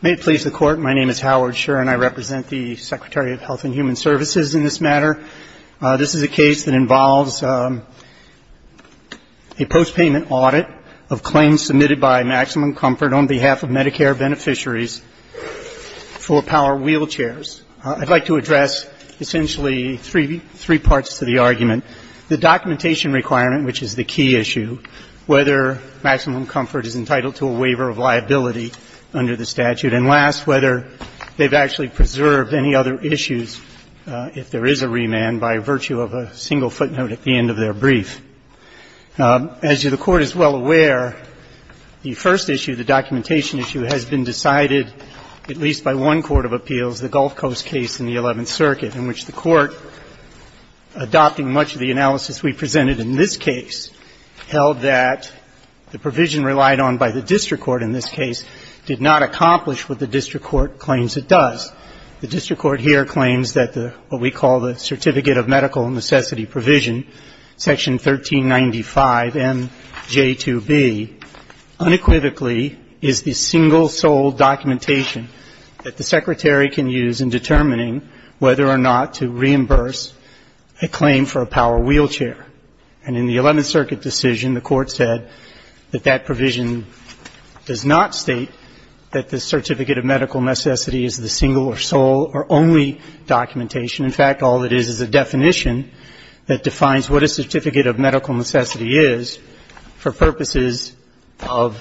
May it please the Court, my name is Howard Scherr and I represent the Secretary of Health and Human Services in this matter. This is a case that involves a post-payment audit of claims submitted by Maximum Comfort on behalf of Medicare beneficiaries for power wheelchairs. I'd like to address essentially three parts to the argument. The documentation requirement, which is the key issue, whether Maximum Comfort is entitled to a waiver of liability under the statute, and last, whether they've actually preserved any other issues if there is a remand by virtue of a single footnote at the end of their brief. As the Court is well aware, the first issue, the documentation issue, has been decided at least by one court of appeals, the Gulf Coast case in the Eleventh Circuit, in which the Court, adopting much the same analysis we presented in this case, held that the provision relied on by the district court in this case did not accomplish what the district court claims it does. The district court here claims that what we call the Certificate of Medical Necessity Provision, Section 1395MJ2B, unequivocally, is the single sole documentation that the Secretary can use in determining whether or not to reimburse a claim for a wheelchair. And in the Eleventh Circuit decision, the Court said that that provision does not state that the Certificate of Medical Necessity is the single or sole or only documentation. In fact, all it is is a definition that defines what a Certificate of Medical Necessity is for purposes of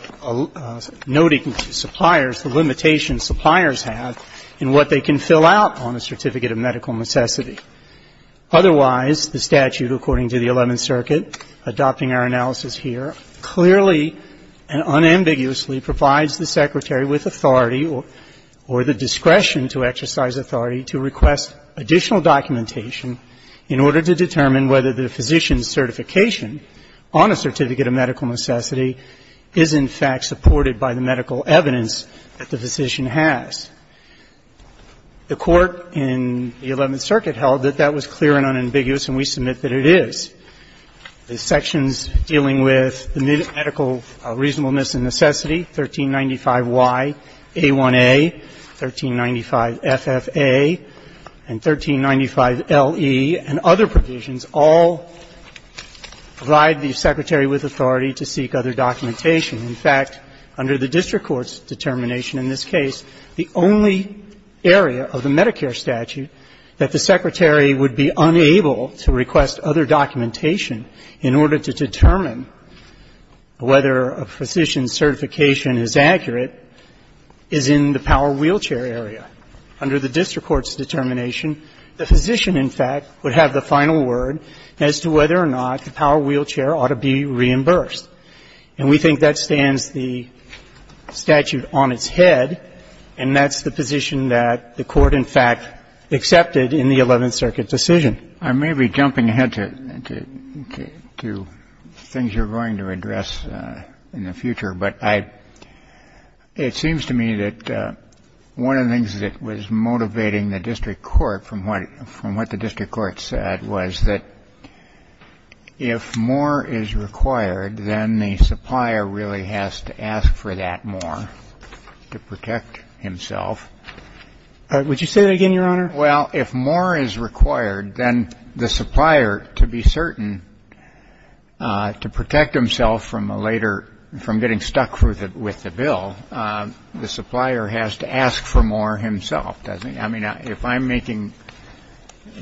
noting suppliers, the limitations suppliers have in what they can fill out on a Certificate of Medical Necessity. Otherwise, the statute, according to the Eleventh Circuit, adopting our analysis here, clearly and unambiguously provides the Secretary with authority or the discretion to exercise authority to request additional documentation in order to determine whether the physician's certification on a Certificate of Medical Necessity is, in fact, supported by the medical evidence that the physician has. The Court in the Eleventh Circuit held that that was clear and unambiguous, and we submit that it is. The sections dealing with the medical reasonableness and necessity, 1395Y, A1A, 1395FFA, and 1395LE, and other provisions all provide the Secretary with authority to seek other documentation. In fact, under the district court's determination in this case, the only provision the only area of the Medicare statute that the Secretary would be unable to request other documentation in order to determine whether a physician's certification is accurate is in the power wheelchair area. Under the district court's determination, the physician, in fact, would have the final word as to whether or not the power wheelchair ought to be reimbursed. And we think that stands the statute on its head, and that's the position that the Court, in fact, accepted in the Eleventh Circuit decision. Kennedy. I may be jumping ahead to things you're going to address in the future, but it seems to me that one of the things that was motivating the district court from what the district court said was that if more is required, then the supplier really has to ask for that more to protect himself. Would you say that again, Your Honor? Well, if more is required, then the supplier, to be certain, to protect himself from getting stuck with the bill, the supplier has to ask for more himself, doesn't he? I mean, if I'm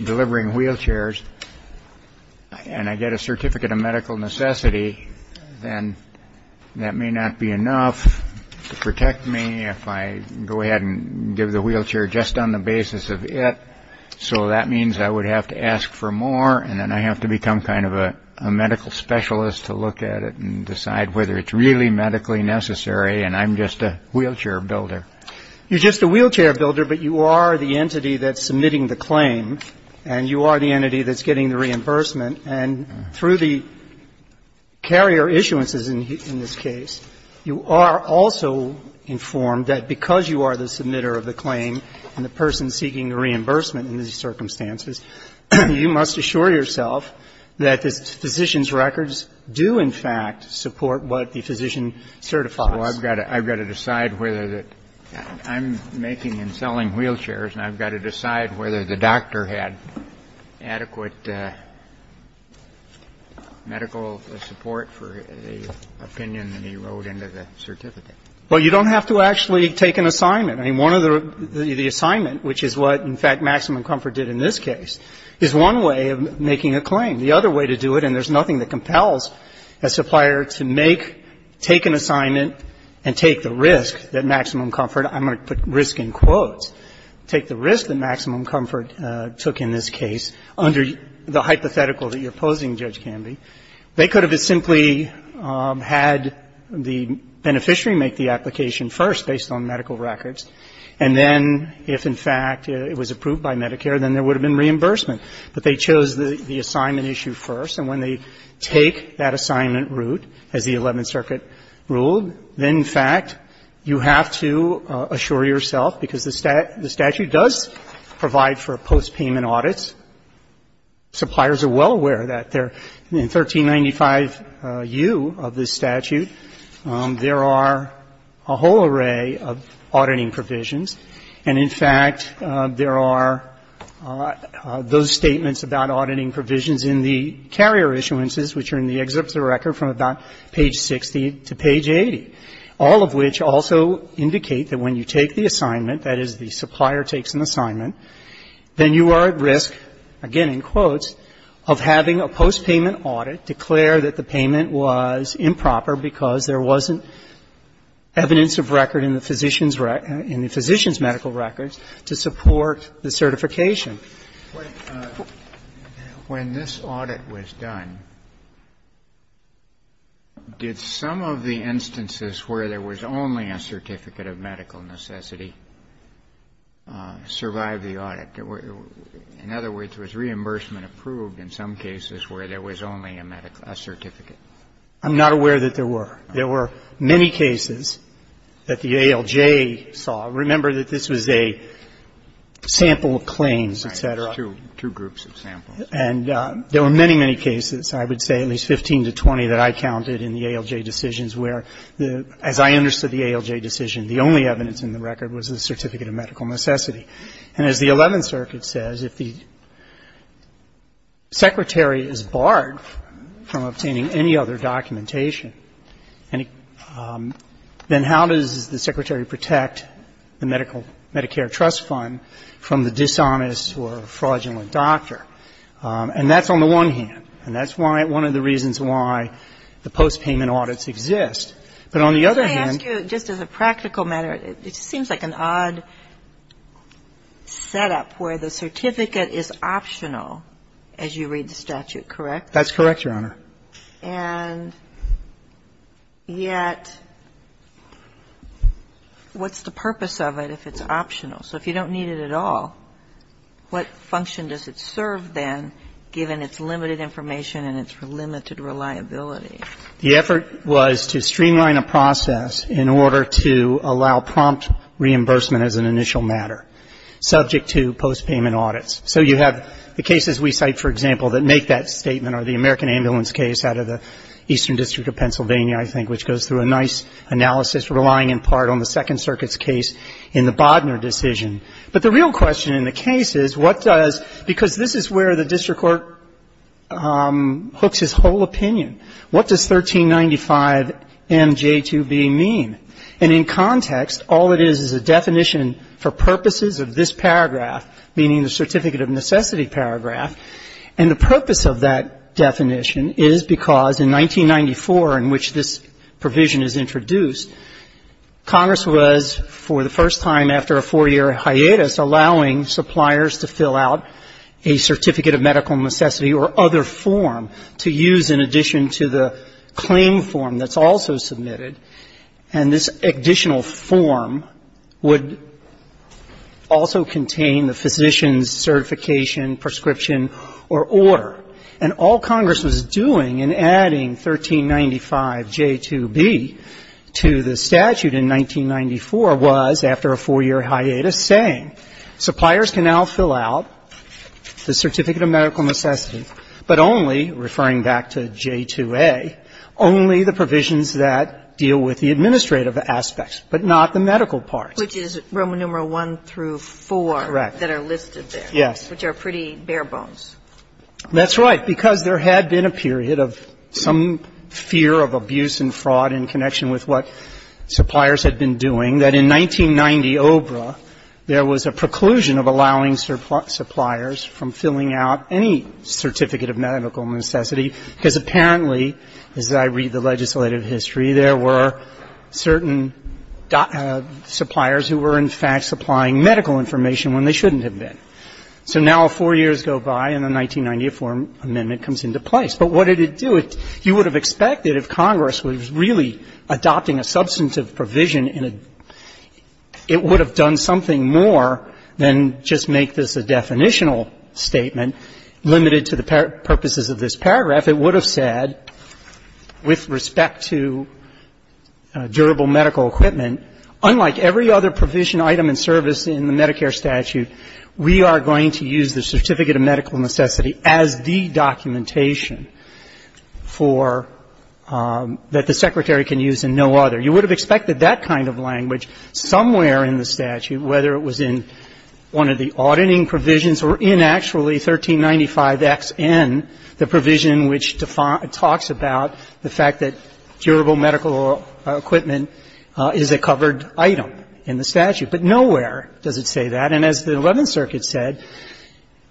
delivering wheelchairs and I get a certificate of medical necessity, then that may not be enough to protect me if I go ahead and give the wheelchair just on the basis of it. So that means I would have to ask for more, and then I have to become kind of a medical specialist to look at it and decide whether it's really medically necessary, and I'm just a wheelchair builder. You're just a wheelchair builder, but you are the entity that's submitting the claim, and you are the entity that's getting the reimbursement. And through the carrier issuances in this case, you are also informed that because you are the submitter of the claim and the person seeking the reimbursement in these circumstances, you must assure yourself that the physician's records do, in fact, support what the physician certifies. Well, I've got to decide whether that I'm making and selling wheelchairs, and I've got to decide whether the doctor had adequate medical support for the opinion that he wrote into the certificate. Well, you don't have to actually take an assignment. I mean, one of the assignments, which is what, in fact, Maximum Comfort did in this case, is one way of making a claim. The other way to do it, and there's nothing that compels a supplier to make, take an assignment, and take the risk that Maximum Comfort, I'm going to put risk in quotes, take the risk that Maximum Comfort took in this case under the hypothetical that you're posing, Judge Canby. They could have simply had the beneficiary make the application first based on medical records, and then if, in fact, it was approved by Medicare, then there would have been reimbursement. But they chose the assignment issue first, and when they take that assignment route, as the Eleventh Circuit ruled, then, in fact, you have to assure yourself because the statute does provide for postpayment audits. Suppliers are well aware of that. In 1395U of this statute, there are a whole array of auditing provisions, and, in fact, there are those statements about auditing provisions in the carrier issuances, which are in the excerpts of the record from about page 60 to page 80, all of which also indicate that when you take the assignment, that is, the supplier takes an assignment, then you are at risk, again in quotes, of having a postpayment audit declare that the payment was improper because there wasn't evidence of record in the physician's medical records to support the certification. When this audit was done, did some of the instances where there was only a certificate of medical necessity survive the audit? In other words, was reimbursement approved in some cases where there was only a certificate? I'm not aware that there were. There were many cases that the ALJ saw. Remember that this was a sample of claims, et cetera. Right. Two groups of samples. And there were many, many cases, I would say at least 15 to 20, that I counted in the ALJ decisions where, as I understood the ALJ decision, the only evidence in the record was a certificate of medical necessity. And as the Eleventh Circuit says, if the Secretary is barred from obtaining any other documentation, then how does the Secretary protect the Medicare Trust Fund from the dishonest or fraudulent doctor? And that's on the one hand, and that's one of the reasons why the postpayment audits exist. But on the other hand ---- But may I ask you, just as a practical matter, it seems like an odd setup where the certificate is optional as you read the statute, correct? That's correct, Your Honor. And yet what's the purpose of it if it's optional? So if you don't need it at all, what function does it serve then, given its limited information and its limited reliability? The effort was to streamline a process in order to allow prompt reimbursement as an initial matter subject to postpayment audits. So you have the cases we cite, for example, that make that statement are the American Ambulance case out of the Eastern District of Pennsylvania, I think, which goes through a nice analysis relying in part on the Second Circuit's case in the Bodner decision. But the real question in the case is what does ---- because this is where the district court hooks his whole opinion. What does 1395MJ2B mean? And in context, all it is is a definition for purposes of this paragraph, meaning the Certificate of Necessity paragraph. And the purpose of that definition is because in 1994 in which this provision is introduced, Congress was, for the first time after a four-year hiatus, allowing suppliers to fill out a Certificate of Medical Necessity or other form to use in addition to the claim form that's also submitted. And this additional form would also contain the physician's certification, prescription or order. And all Congress was doing in adding 1395J2B to the statute in 1994 was, after a four-year hiatus, saying suppliers can now fill out the Certificate of Medical Necessity, but only, referring back to J2A, only the provisions that deal with the administrative aspects, but not the medical parts. Which is Roman numeral I through IV. Correct. That are listed there. Yes. Which are pretty bare bones. That's right. Because there had been a period of some fear of abuse and fraud in connection with what suppliers had been doing, that in 1990 OBRA, there was a preclusion of allowing suppliers from filling out any Certificate of Medical Necessity because apparently, as I read the legislative history, there were certain suppliers who were, in fact, supplying medical information when they shouldn't have been. So now four years go by and the 1994 amendment comes into place. But what did it do? You would have expected, if Congress was really adopting a substantive provision, it would have done something more than just make this a definitional statement limited to the purposes of this paragraph. It would have said, with respect to durable medical equipment, unlike every other provision, item and service in the Medicare statute, we are going to use the Certificate of Medical Necessity as the documentation for the Secretary can use and no other. You would have expected that kind of language somewhere in the statute, whether it was in one of the auditing provisions or in actually 1395XN, the provision which talks about the fact that durable medical equipment is a covered item in the statute, but nowhere does it say that. And as the Eleventh Circuit said,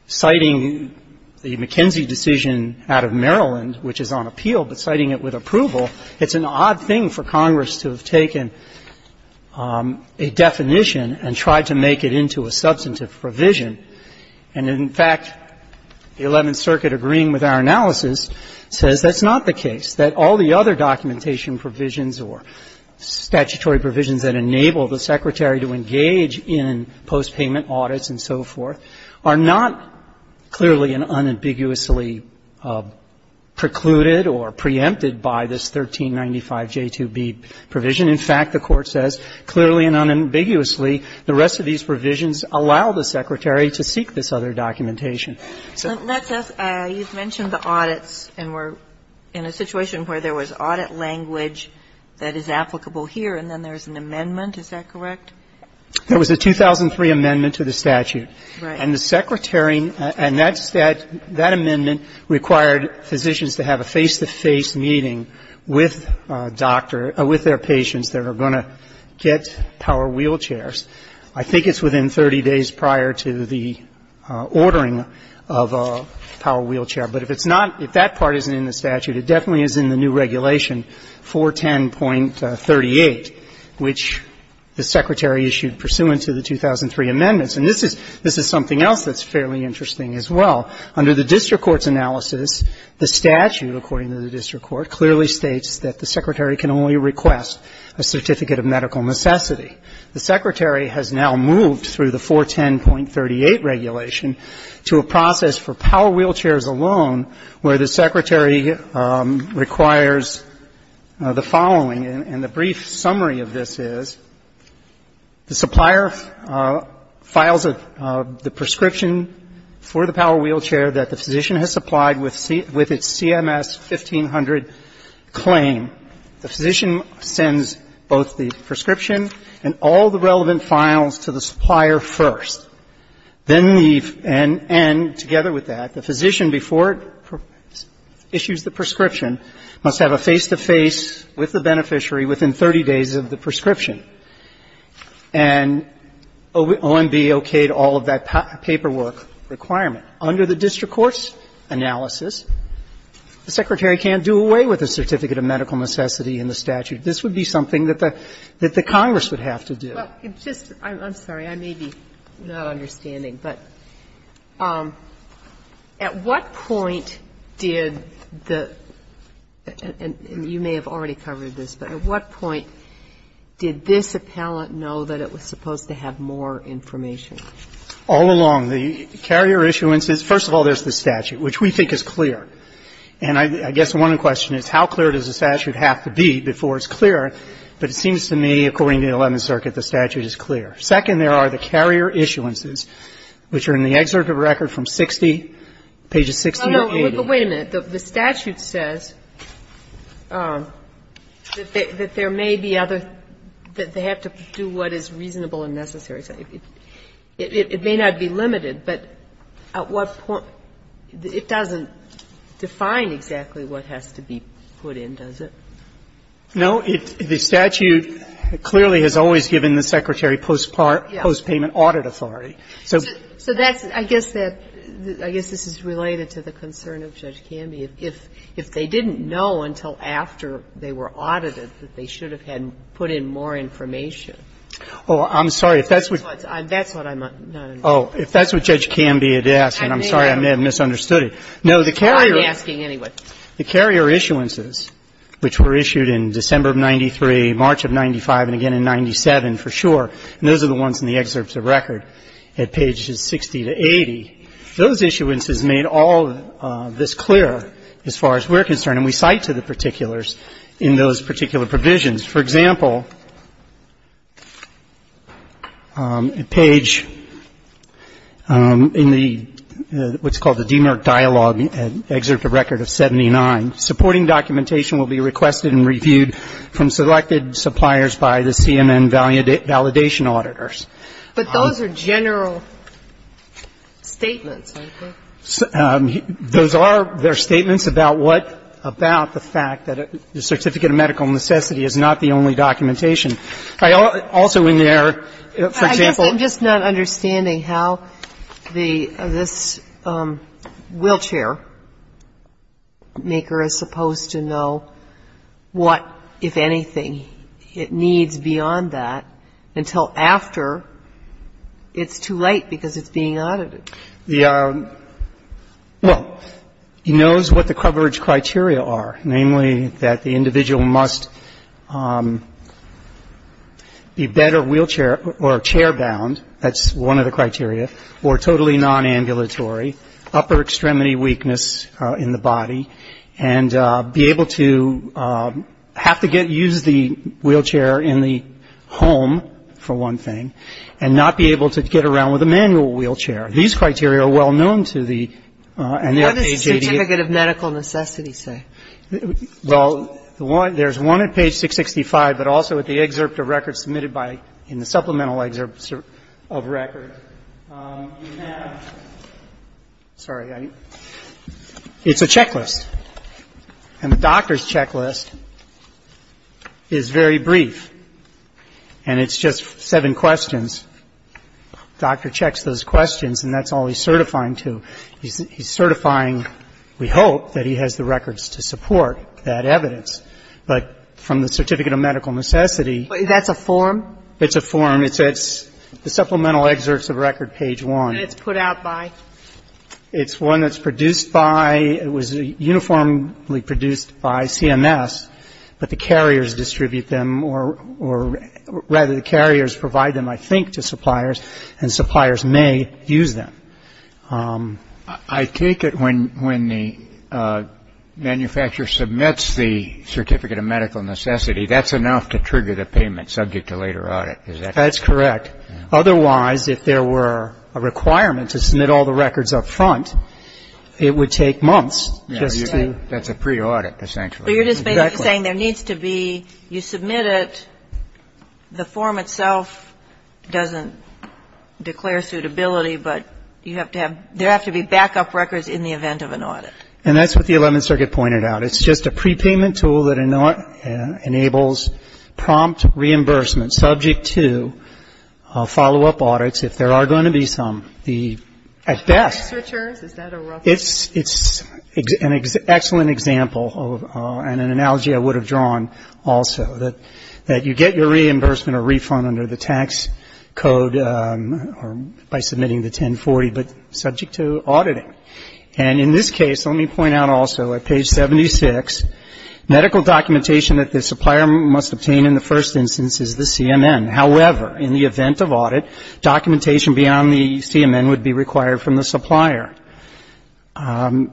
citing the McKenzie decision out of Maryland, which is on appeal, but citing it with approval, it's an odd thing for Congress to have taken a definition and tried to make it into a substantive provision. And in fact, the Eleventh Circuit, agreeing with our analysis, says that's not the case, that all the other documentation provisions or statutory provisions that enable the Secretary to engage in postpayment audits and so forth are not clearly and unambiguously precluded or preempted by this 1395J2B provision. In fact, the Court says, clearly and unambiguously, the rest of these provisions allow the Secretary to seek this other documentation. So that says you've mentioned the audits and we're in a situation where there was audit language that is applicable here, and then there's an amendment. Is that correct? There was a 2003 amendment to the statute. Right. And the Secretary, and that amendment required physicians to have a face-to-face meeting with doctor or with their patients that are going to get power wheelchairs. I think it's within 30 days prior to the ordering of a power wheelchair. But if it's not, if that part isn't in the statute, it definitely is in the new regulation 410.38, which the Secretary issued pursuant to the 2003 amendments. And this is something else that's fairly interesting as well. Under the district court's analysis, the statute, according to the district court, clearly states that the Secretary can only request a certificate of medical necessity. The Secretary has now moved through the 410.38 regulation to a process for power wheelchairs alone where the Secretary requires the following. And the brief summary of this is the supplier files the prescription for the power wheelchair that the physician has supplied with its CMS 1500 claim. The physician sends both the prescription and all the relevant files to the supplier first. Then the end, together with that, the physician, before it issues the prescription, must have a face-to-face with the beneficiary within 30 days of the prescription. And OMB okayed all of that paperwork requirement. Under the district court's analysis, the Secretary can't do away with a certificate of medical necessity in the statute. This would be something that the Congress would have to do. Well, it's just, I'm sorry, I may be not understanding, but at what point did the and you may have already covered this, but at what point did this appellant know that it was supposed to have more information? All along. The carrier issuance is, first of all, there's the statute, which we think is clear. And I guess one question is, how clear does the statute have to be before it's clear? But it seems to me, according to the Eleventh Circuit, the statute is clear. Second, there are the carrier issuances, which are in the excerpt of the record from 60, pages 60 to 80. Well, no, but wait a minute. The statute says that there may be other, that they have to do what is reasonable and necessary. It may not be limited, but at what point? It doesn't define exactly what has to be put in, does it? No. The statute clearly has always given the Secretary post-payment audit authority. So that's, I guess that, I guess this is related to the concern of Judge Canby. If they didn't know until after they were audited that they should have had put in more information. Oh, I'm sorry. That's what I'm, no, no, no. Oh, if that's what Judge Canby had asked, and I'm sorry, I may have misunderstood it. I'm asking anyway. The carrier issuances, which were issued in December of 93, March of 95, and again in 97 for sure, and those are the ones in the excerpt of record at pages 60 to 80, those issuances made all this clear as far as we're concerned. And we cite to the particulars in those particular provisions. For example, page, in the, what's called the DMIRC dialogue, excerpt of record of 79, supporting documentation will be requested and reviewed from selected suppliers by the CMN validation auditors. But those are general statements, I think. Those are, they're statements about what, about the fact that the certificate of medical necessity is not the only documentation. Also in there, for example. I guess I'm just not understanding how the, this wheelchair maker is supposed to know what, if anything, it needs beyond that until after it's too late because it's being audited. The, well, he knows what the coverage criteria are, namely that the individual must be bed or wheelchair or chair bound, that's one of the criteria, or totally non-ambulatory, upper extremity weakness in the body, and be able to have to get, use the wheelchair in the home, for one thing, and not be able to get around with a manual wheelchair. These criteria are well known to the, and they're page 88. What does the certificate of medical necessity say? Well, there's one at page 665, but also at the excerpt of records submitted by, in the supplemental excerpt of records. You have, sorry, it's a checklist. And the doctor's checklist is very brief. And it's just seven questions. Doctor checks those questions, and that's all he's certifying to. He's certifying, we hope, that he has the records to support that evidence. But from the certificate of medical necessity. That's a form? It's a form. It's the supplemental excerpts of record, page 1. And it's put out by? It's one that's produced by, it was uniformly produced by CMS, but the carriers distribute them, or rather the carriers provide them, I think, to suppliers, and suppliers may use them. I take it when the manufacturer submits the certificate of medical necessity, that's enough to trigger the payment subject to later audit. Is that correct? That's correct. Otherwise, if there were a requirement to submit all the records up front, it would take months just to? That's a pre-audit, essentially. Exactly. But you're just basically saying there needs to be, you submit it, the form itself doesn't declare suitability, but you have to have, there have to be backup records in the event of an audit. And that's what the 11th Circuit pointed out. It's just a prepayment tool that enables prompt reimbursement subject to follow-up audits if there are going to be some. The, at best. Researchers? Is that a rough? It's an excellent example, and an analogy I would have drawn also. That you get your reimbursement or refund under the tax code by submitting the 1040, but subject to auditing. And in this case, let me point out also, at page 76, medical documentation that the supplier must obtain in the first instance is the CMN. However, in the event of audit, documentation beyond the CMN would be required from the supplier. I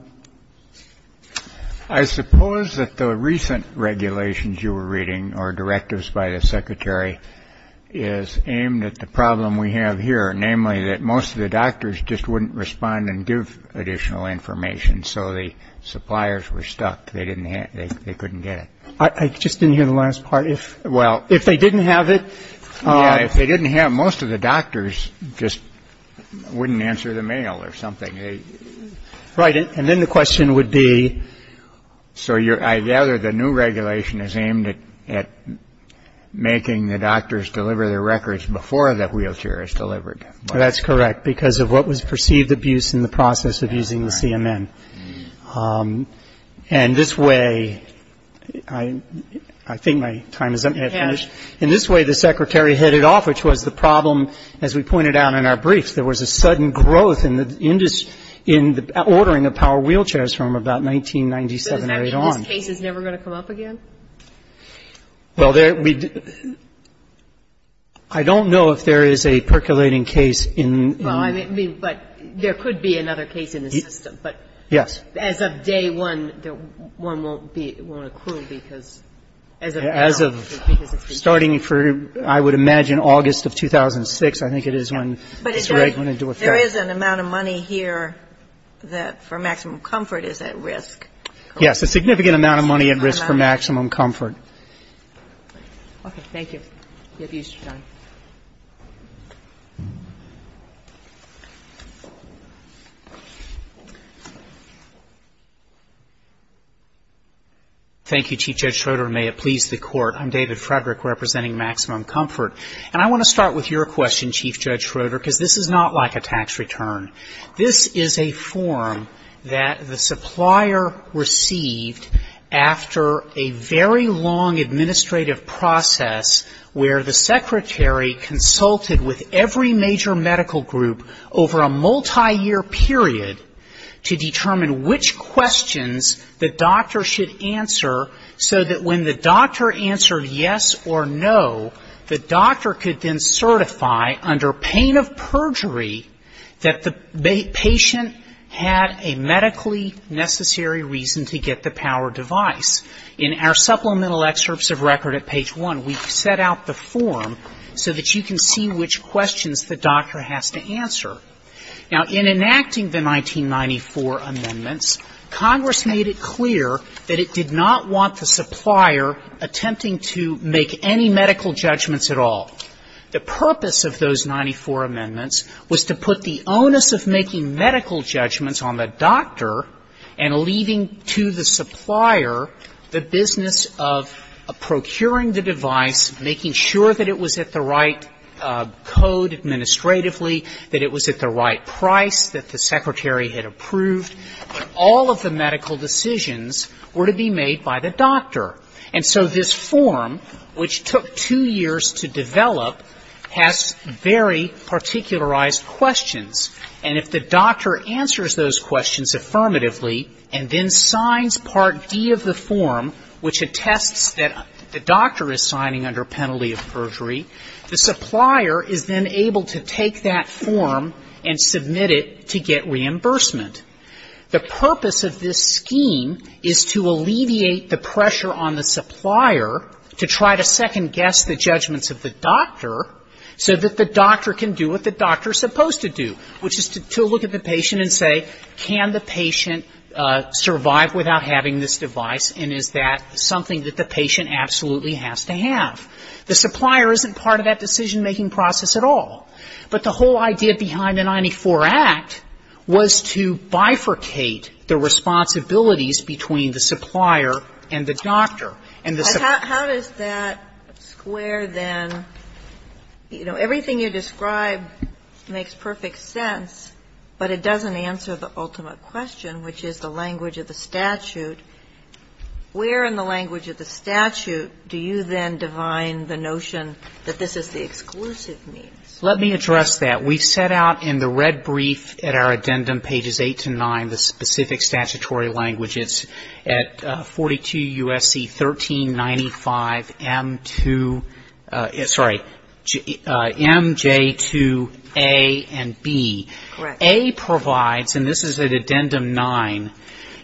suppose that the recent regulations you were reading, or directives by the secretary, is aimed at the problem we have here. Namely, that most of the doctors just wouldn't respond and give additional information. So the suppliers were stuck. They didn't have, they couldn't get it. I just didn't hear the last part. Well, if they didn't have it. If they didn't have, most of the doctors just wouldn't answer the mail or something. Right. And then the question would be. So I gather the new regulation is aimed at making the doctors deliver their records before the wheelchair is delivered. That's correct. Because of what was perceived abuse in the process of using the CMN. And this way, I think my time is up. In this way, the secretary hit it off, which was the problem, as we pointed out in our briefs, that there was a sudden growth in the ordering of power wheelchairs from about 1997 right on. So does that mean this case is never going to come up again? Well, I don't know if there is a percolating case in. Well, I mean, but there could be another case in the system. Yes. But as of day one, one won't be, won't accrue because as of now. As of starting for, I would imagine, August of 2006. I think it is when. But there is an amount of money here that for maximum comfort is at risk. Yes. A significant amount of money at risk for maximum comfort. Okay. Thank you. The abuse is done. Thank you, Chief Judge Schroeder. May it please the Court. I'm David Frederick representing Maximum Comfort. And I want to start with your question, Chief Judge Schroeder, because this is not like a tax return. This is a form that the supplier received after a very long administrative process where the secretary consulted with every major medical group over a multiyear period to determine which questions the doctor should answer so that when the doctor answered yes or no, the doctor could then certify under pain of perjury that the patient had a medically necessary reason to get the power device. In our supplemental excerpts of record at page one, we set out the form so that you can see which questions the doctor has to answer. Now, in enacting the 1994 amendments, Congress made it clear that it did not want the supplier attempting to make any medical judgments at all. The purpose of those 94 amendments was to put the onus of making medical judgments on the doctor and leaving to the supplier the business of procuring the device, making sure that it was at the right code administratively, that it was at the right price, that the secretary had approved. But all of the medical decisions were to be made by the doctor. And so this form, which took two years to develop, has very particularized questions. And if the doctor answers those questions affirmatively and then signs Part D of the form, which attests that the doctor is signing under penalty of perjury, the supplier is then able to take that form and submit it to get reimbursement. The purpose of this scheme is to alleviate the pressure on the supplier to try to second-guess the judgments of the doctor so that the doctor can do what the doctor is supposed to do, which is to look at the patient and say, can the patient survive without having this device and is that something that the patient absolutely has to have? The supplier isn't part of that decision-making process at all. But the whole idea behind the 94 Act was to bifurcate the responsibilities between the supplier and the doctor. And the supplier... How does that square then? You know, everything you describe makes perfect sense, but it doesn't answer the ultimate question, which is the language of the statute. Where in the language of the statute do you then divine the notion that this is the exclusive means? Let me address that. We've set out in the red brief at our addendum, pages 8 to 9, the specific statutory language. It's at 42 U.S.C. 1395 M.J. 2A and B. A provides, and this is at addendum 9,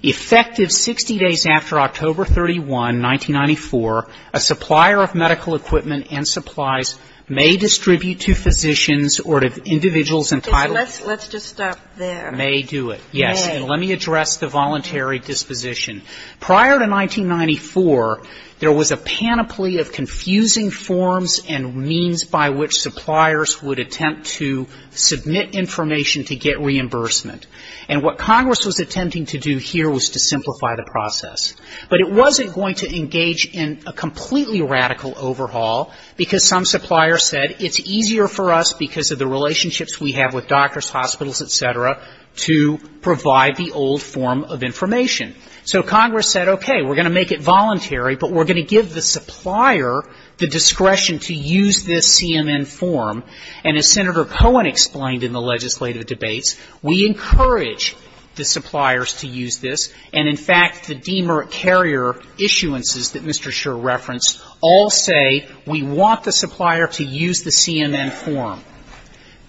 effective 60 days after October 31, 1994, a supplier of medical equipment and supplies may distribute to physicians or to individuals entitled... Let's just stop there. May do it, yes. May. And let me address the voluntary disposition. Prior to 1994, there was a panoply of confusing forms and means by which suppliers would attempt to submit information to get reimbursement. And what Congress was attempting to do here was to simplify the process. But it wasn't going to engage in a completely radical overhaul, because some suppliers said it's easier for us, because of the relationships we have with doctors, hospitals, et cetera, to provide the old form of information. So Congress said, okay, we're going to make it voluntary, but we're going to give the supplier the discretion to use this CMN form. And as Senator Cohen explained in the legislative debates, we encourage the suppliers to use this. And, in fact, the DMR carrier issuances that Mr. Schur referenced all say we want the supplier to use the CMN form.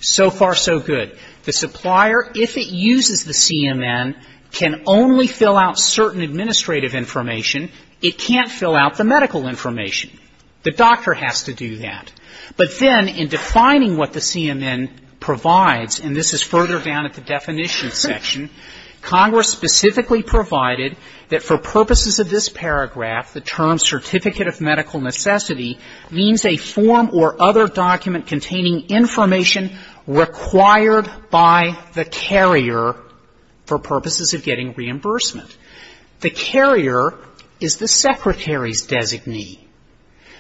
So far, so good. The supplier, if it uses the CMN, can only fill out certain administrative information. It can't fill out the medical information. The doctor has to do that. But then, in defining what the CMN provides, and this is further down at the definition section, Congress specifically provided that for purposes of this paragraph, the term certificate of medical necessity, means a form or other document containing information required by the carrier for purposes of getting reimbursement. The carrier is the secretary's designee.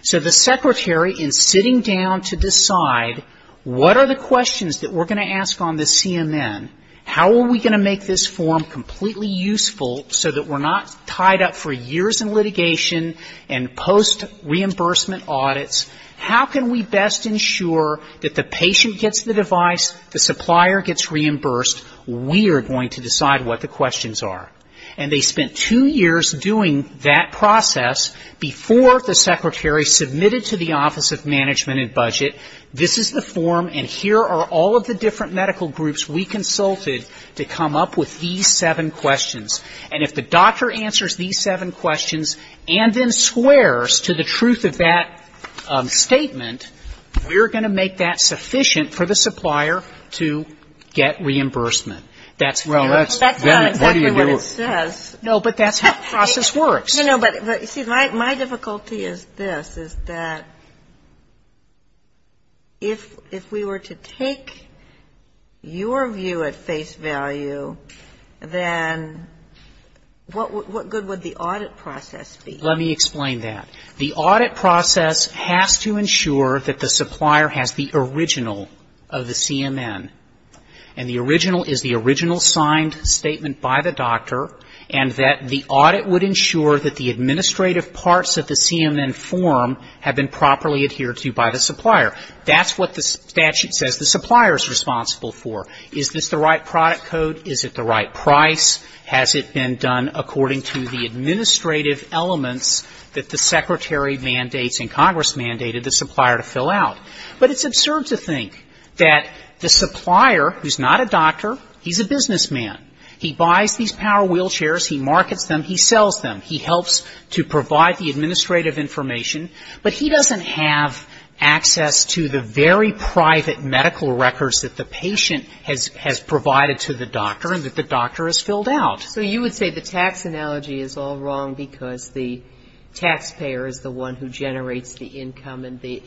So the secretary, in sitting down to decide what are the questions that we're going to ask on the CMN, how are we going to make this form completely useful so that we're not tied up for years in litigation and post-reimbursement audits? How can we best ensure that the patient gets the device, the supplier gets reimbursed? We are going to decide what the questions are. And they spent two years doing that process before the secretary submitted to the Office of Management and Budget, this is the form, and here are all of the different medical groups we consulted to come up with these seven questions. And if the doctor answers these seven questions and then swears to the truth of that statement, we're going to make that sufficient for the supplier to get reimbursement. That's not exactly what it says. No, but that's how the process works. No, no, but you see, my difficulty is this, is that if we were to take your view at face value, then what good would the audit process be? Let me explain that. The audit process has to ensure that the supplier has the original of the CMN. And the original is the original signed statement by the doctor and that the audit would ensure that the administrative parts of the CMN form have been properly adhered to by the supplier. That's what the statute says the supplier is responsible for. Is this the right product code? Is it the right price? Has it been done according to the administrative elements that the secretary mandates and Congress mandated the supplier to fill out? But it's absurd to think that the supplier, who's not a doctor, he's a businessman. He buys these power wheelchairs. He markets them. He sells them. He helps to provide the administrative information. But he doesn't have access to the very private medical records that the patient has provided to the doctor and that the doctor has filled out. So you would say the tax analogy is all wrong because the taxpayer is the one who generates the income and the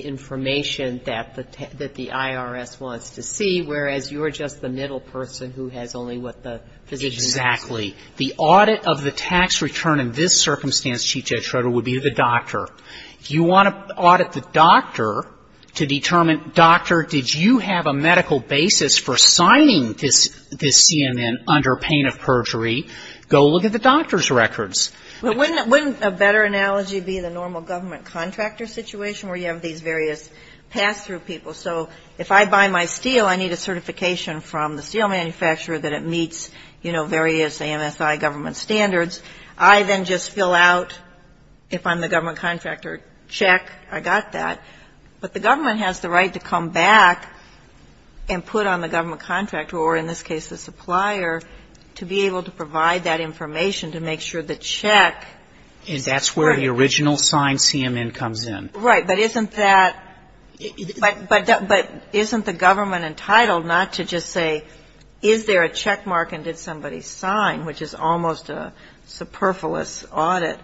information that the IRS wants to see, whereas you're just the middle person who has only what the physician has. Exactly. The audit of the tax return in this circumstance, Chief Judge Schroeder, would be the doctor. If you want to audit the doctor to determine, doctor, did you have a medical basis for signing this CMN under pain of perjury, go look at the doctor's records. But wouldn't a better analogy be the normal government contractor situation where you have these various pass-through people? So if I buy my steel, I need a certification from the steel manufacturer that it meets, you know, various AMSI government standards. I then just fill out, if I'm the government contractor, check, I got that. But the government has the right to come back and put on the government contractor, or in this case the supplier, to be able to provide that information to make sure the check is correct. And that's where the original signed CMN comes in. Right. But isn't the government entitled not to just say, is there a checkmark and did somebody sign, which is almost a superfluous audit?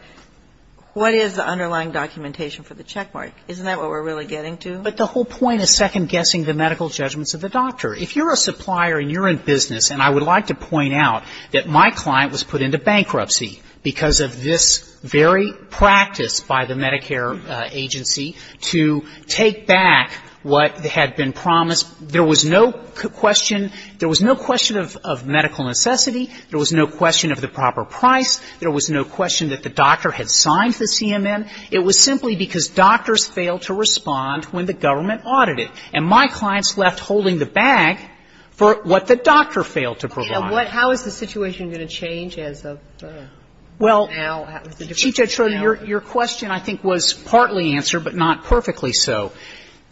What is the underlying documentation for the checkmark? Isn't that what we're really getting to? But the whole point is second-guessing the medical judgments of the doctor. If you're a supplier and you're in business, and I would like to point out that my client was put into bankruptcy because of this very practice by the Medicare agency to take back what had been promised. There was no question of medical necessity. There was no question of the proper price. There was no question that the doctor had signed the CMN. It was simply because doctors failed to respond when the government audited. And my clients left holding the bag for what the doctor failed to provide. And how is the situation going to change as of now? Well, Chief Judge Schroeder, your question I think was partly answered, but not perfectly so.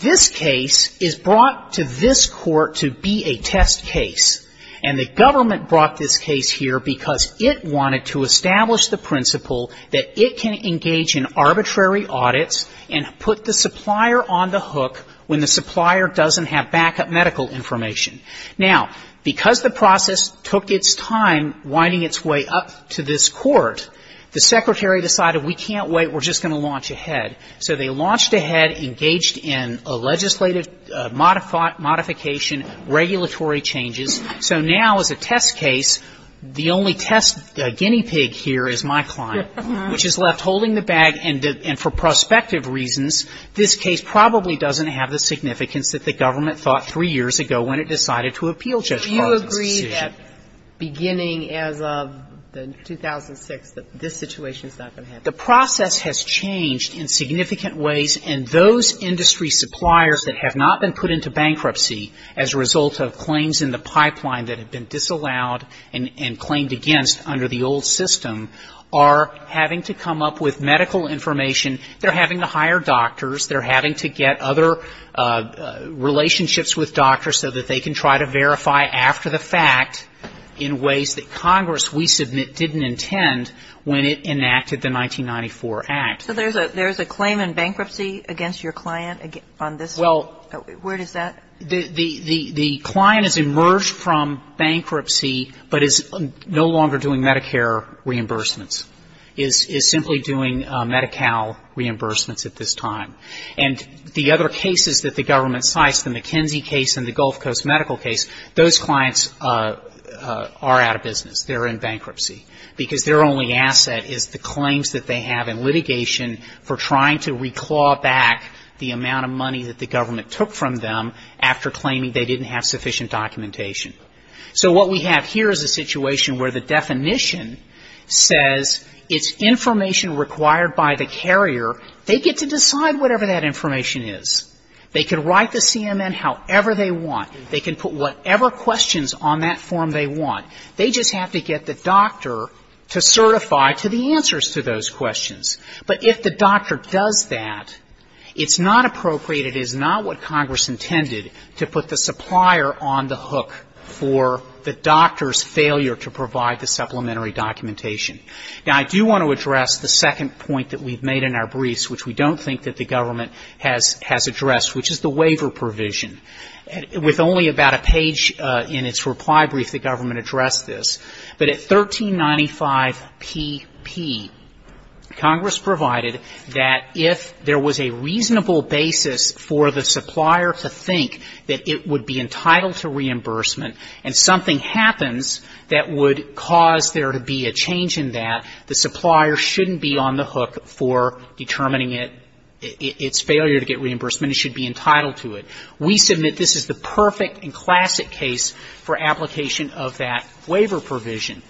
This case is brought to this court to be a test case. And the government brought this case here because it wanted to establish the principle that it can engage in arbitrary audits and put the supplier on the hook when the supplier doesn't have backup medical information. Now, because the process took its time winding its way up to this court, the secretary decided we can't wait, we're just going to launch ahead. So they launched ahead, engaged in a legislative modification, regulatory changes. So now as a test case, the only test guinea pig here is my client, which is left holding the bag, and for prospective reasons, this case probably doesn't have the significance that the government thought three years ago when it decided to appeal Judge Carter's decision. So you agree that beginning as of 2006 that this situation is not going to happen? The process has changed in significant ways, and those industry suppliers that have not been put into bankruptcy as a result of claims in the pipeline that have been disallowed and claimed against under the old system are having to come up with medical information. They're having to hire doctors. They're having to get other relationships with doctors so that they can try to verify after the fact in ways that Congress, we submit, didn't intend when it enacted the 1994 Act. So there's a claim in bankruptcy against your client on this? Well... The client has emerged from bankruptcy but is no longer doing Medicare reimbursements, is simply doing Medi-Cal reimbursements at this time. And the other cases that the government cites, the McKenzie case and the Gulf Coast medical case, those clients are out of business. They're in bankruptcy because their only asset is the claims that they have in litigation for trying to reclaw back the amount of money that the government took from them after claiming they didn't have sufficient documentation. So what we have here is a situation where the definition says it's information required by the carrier. They get to decide whatever that information is. They can write the CMN however they want. They can put whatever questions on that form they want. They just have to get the doctor to certify to the answers to those questions. But if the doctor does that, it's not appropriate, it is not what Congress intended to put the supplier on the hook for the doctor's failure to provide the supplementary documentation. Now, I do want to address the second point that we've made in our briefs, which we don't think that the government has addressed, which is the waiver provision. With only about a page in its reply brief the government addressed this. But at 1395pp, Congress provided that if there was a reasonable basis for the supplier to think that it would be entitled to reimbursement and something happens that would cause there to be a change in that, the supplier shouldn't be on the hook for determining its failure to get reimbursement. It should be entitled to it. We submit this is the perfect and classic case for application of that waiver provision.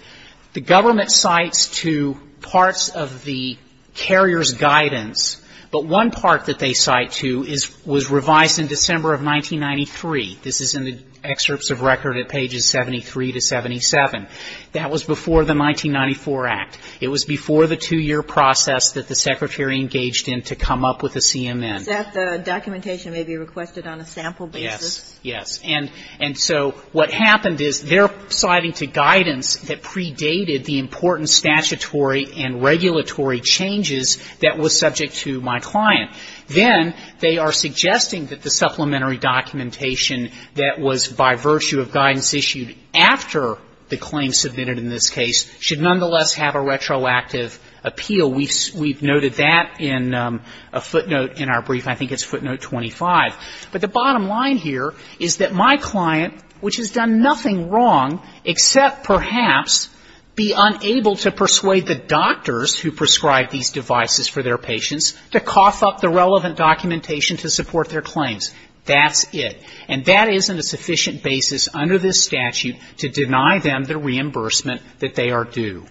The government cites to parts of the carrier's guidance, but one part that they cite to was revised in December of 1993. This is in the excerpts of record at pages 73 to 77. That was before the 1994 Act. It was before the two-year process that the Secretary engaged in to come up with a CMN. The documentation may be requested on a sample basis. Yes. And so what happened is they're citing to guidance that predated the important statutory and regulatory changes that were subject to my client. Then they are suggesting that the supplementary documentation that was by virtue of guidance issued after the claim submitted in this case should nonetheless have a retroactive appeal. We've noted that in a footnote in our brief. I think it's footnote 25. But the bottom line here is that my client, which has done nothing wrong except perhaps be unable to persuade the doctors who prescribe these devices for their patients to cough up the relevant documentation to support their claims. That's it. And that isn't a sufficient basis under this statute to deny them the reimbursement that they are due.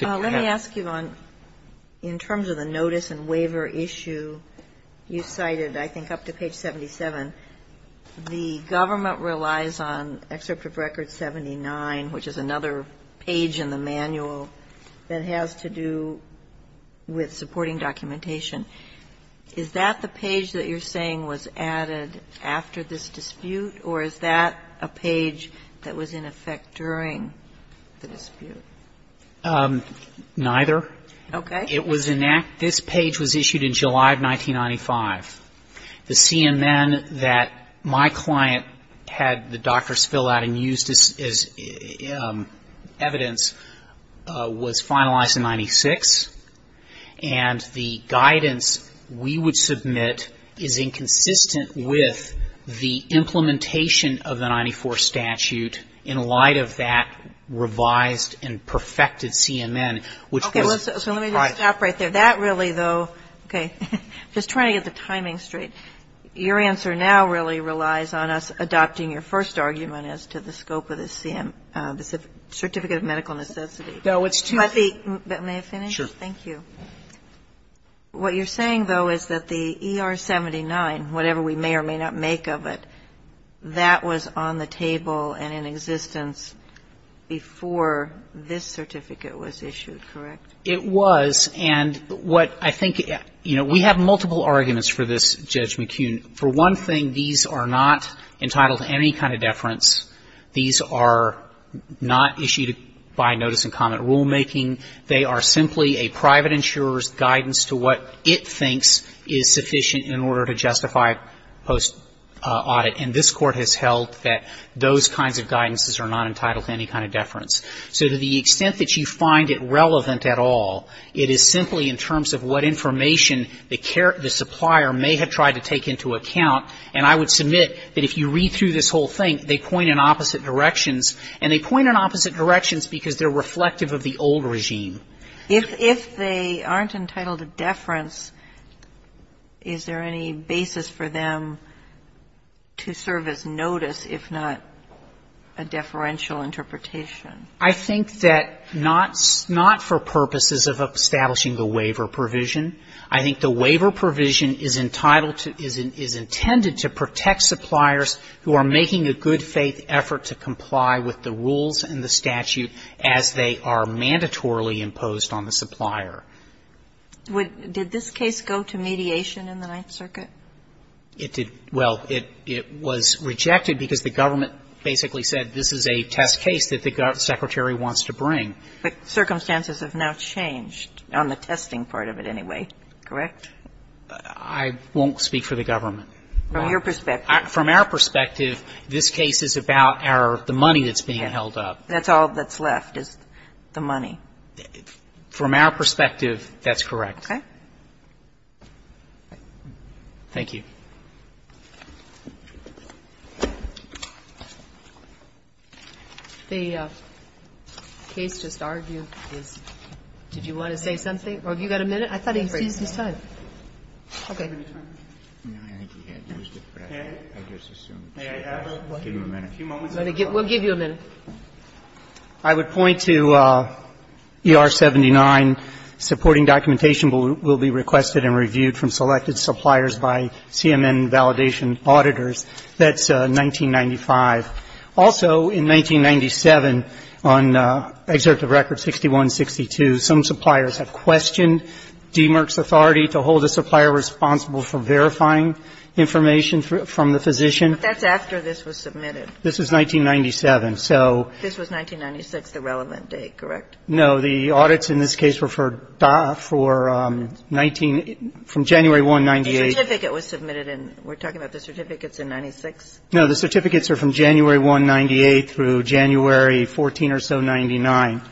Let me ask you on, in terms of the notice and waiver issue, you cited, I think, up to page 77. The government relies on Excerpt of Record 79, which is another page in the manual that has to do with supporting documentation. Is that the page that you're saying was added after this dispute, or is that a page that was in effect during the dispute? Neither. Okay. It was enacted, this page was issued in July of 1995. The CNN that my client had the doctors fill out and used as evidence was finalized in 96. And the guidance we would submit is inconsistent with the implementation of the 94 statute in light of that revised and perfected CNN, which was... Okay. So let me just stop right there. That really, though, okay. Just trying to get the timing straight. Your answer now really relies on us adopting your first argument as to the scope of the certificate of medical necessity. No, it's too... May I finish? Sure. Thank you. What you're saying, though, is that the ER-79, whatever we may or may not make of it, that was on the table and in existence before this certificate was issued, correct? It was. And what I think, you know, we have multiple arguments for this, Judge McKeown. For one thing, these are not entitled to any kind of deference. These are not issued by notice-and-comment rulemaking. They are simply a private insurer's guidance to what it thinks is sufficient in order to justify post-audit. And this Court has held that those kinds of guidances are not entitled to any kind of deference. So to the extent that you find it relevant at all, it is simply in terms of what information the supplier may have tried to take into account. And I would submit that if you read through this whole thing, they point in opposite directions, and they point in opposite directions because they're reflective of the old regime. If they aren't entitled to deference, is there any basis for them to serve as notice, if not a deferential interpretation? I think that not for purposes of establishing the waiver provision. I think the waiver provision is entitled to, is intended to protect suppliers who are making a good-faith effort to comply with the rules and the statute as they are mandatorily imposed on the supplier. Did this case go to mediation in the Ninth Circuit? It did. Well, it was rejected because the government basically said this is a test case that the Secretary wants to bring. But circumstances have now changed on the testing part of it anyway, correct? I won't speak for the government. From your perspective? From our perspective, this case is about the money that's being held up. That's all that's left is the money. From our perspective, that's correct. Okay. Thank you. The case just argued is... Did you want to say something? Oh, you've got a minute? I thought he seized his time. Okay. May I have a few moments? We'll give you a minute. I would point to ER 79. Supporting documentation will be requested and reviewed from selected suppliers by CMN validation auditors. That's 1995. Also, in 1997, on Executive Record 6162, some suppliers have questioned DMERC's authority to hold a supplier responsible for verifying information from the physician. But that's after this was submitted. This was 1997, so... This was 1996, the relevant date, correct? No, the audits in this case were for 19... from January 1, 1998. The certificate was submitted in... We're talking about the certificates in 96? No, the certificates are from January 1, 1998, through January 14 or so, 99.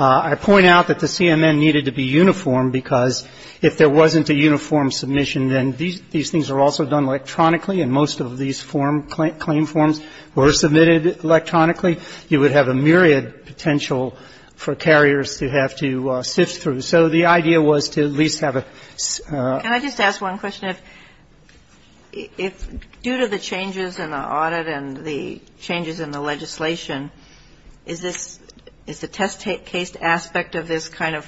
I point out that the CMN needed to be uniform because if there wasn't a uniform submission, then these things are also done electronically and most of these claim forms were submitted electronically. You would have a myriad potential for carriers to have to sift through. So the idea was to at least have a... Can I just ask one question? If... Due to the changes in the audit and the changes in the legislation, is this... is the test case aspect of this kind of...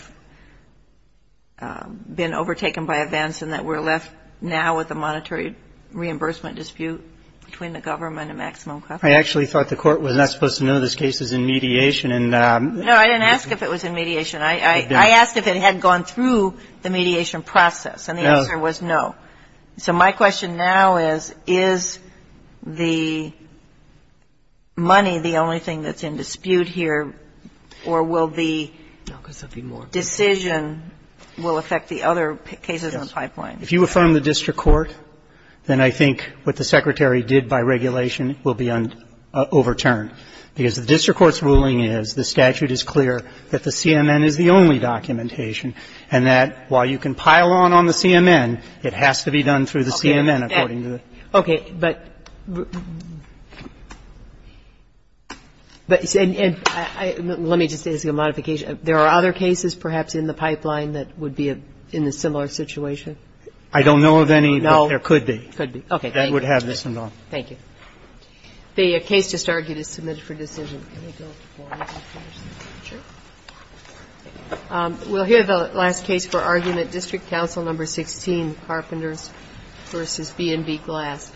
been overtaken by events and that we're left now with a monetary reimbursement dispute between the government and maximum cost? I actually thought the court was not supposed to know this case is in mediation and... No, I didn't ask if it was in mediation. I asked if it had gone through the mediation process and the answer was no. So my question now is, is the money the only thing that's in dispute here or will the decision... will affect the other cases in the pipeline? If you affirm the district court, then I think what the Secretary did by regulation will be overturned because the district court's ruling is the statute is clear that the CMN is the only documentation and that while you can pile on on the CMN, it has to be done through the CMN according to the... Okay, but... Let me just ask a modification. There are other cases perhaps in the pipeline that would be in a similar situation? Could be. Okay, thank you. Thank you. The case just argued is submitted for decision. We'll hear the last case for argument, District Council Number 16, Carpenters v. B&B Glass.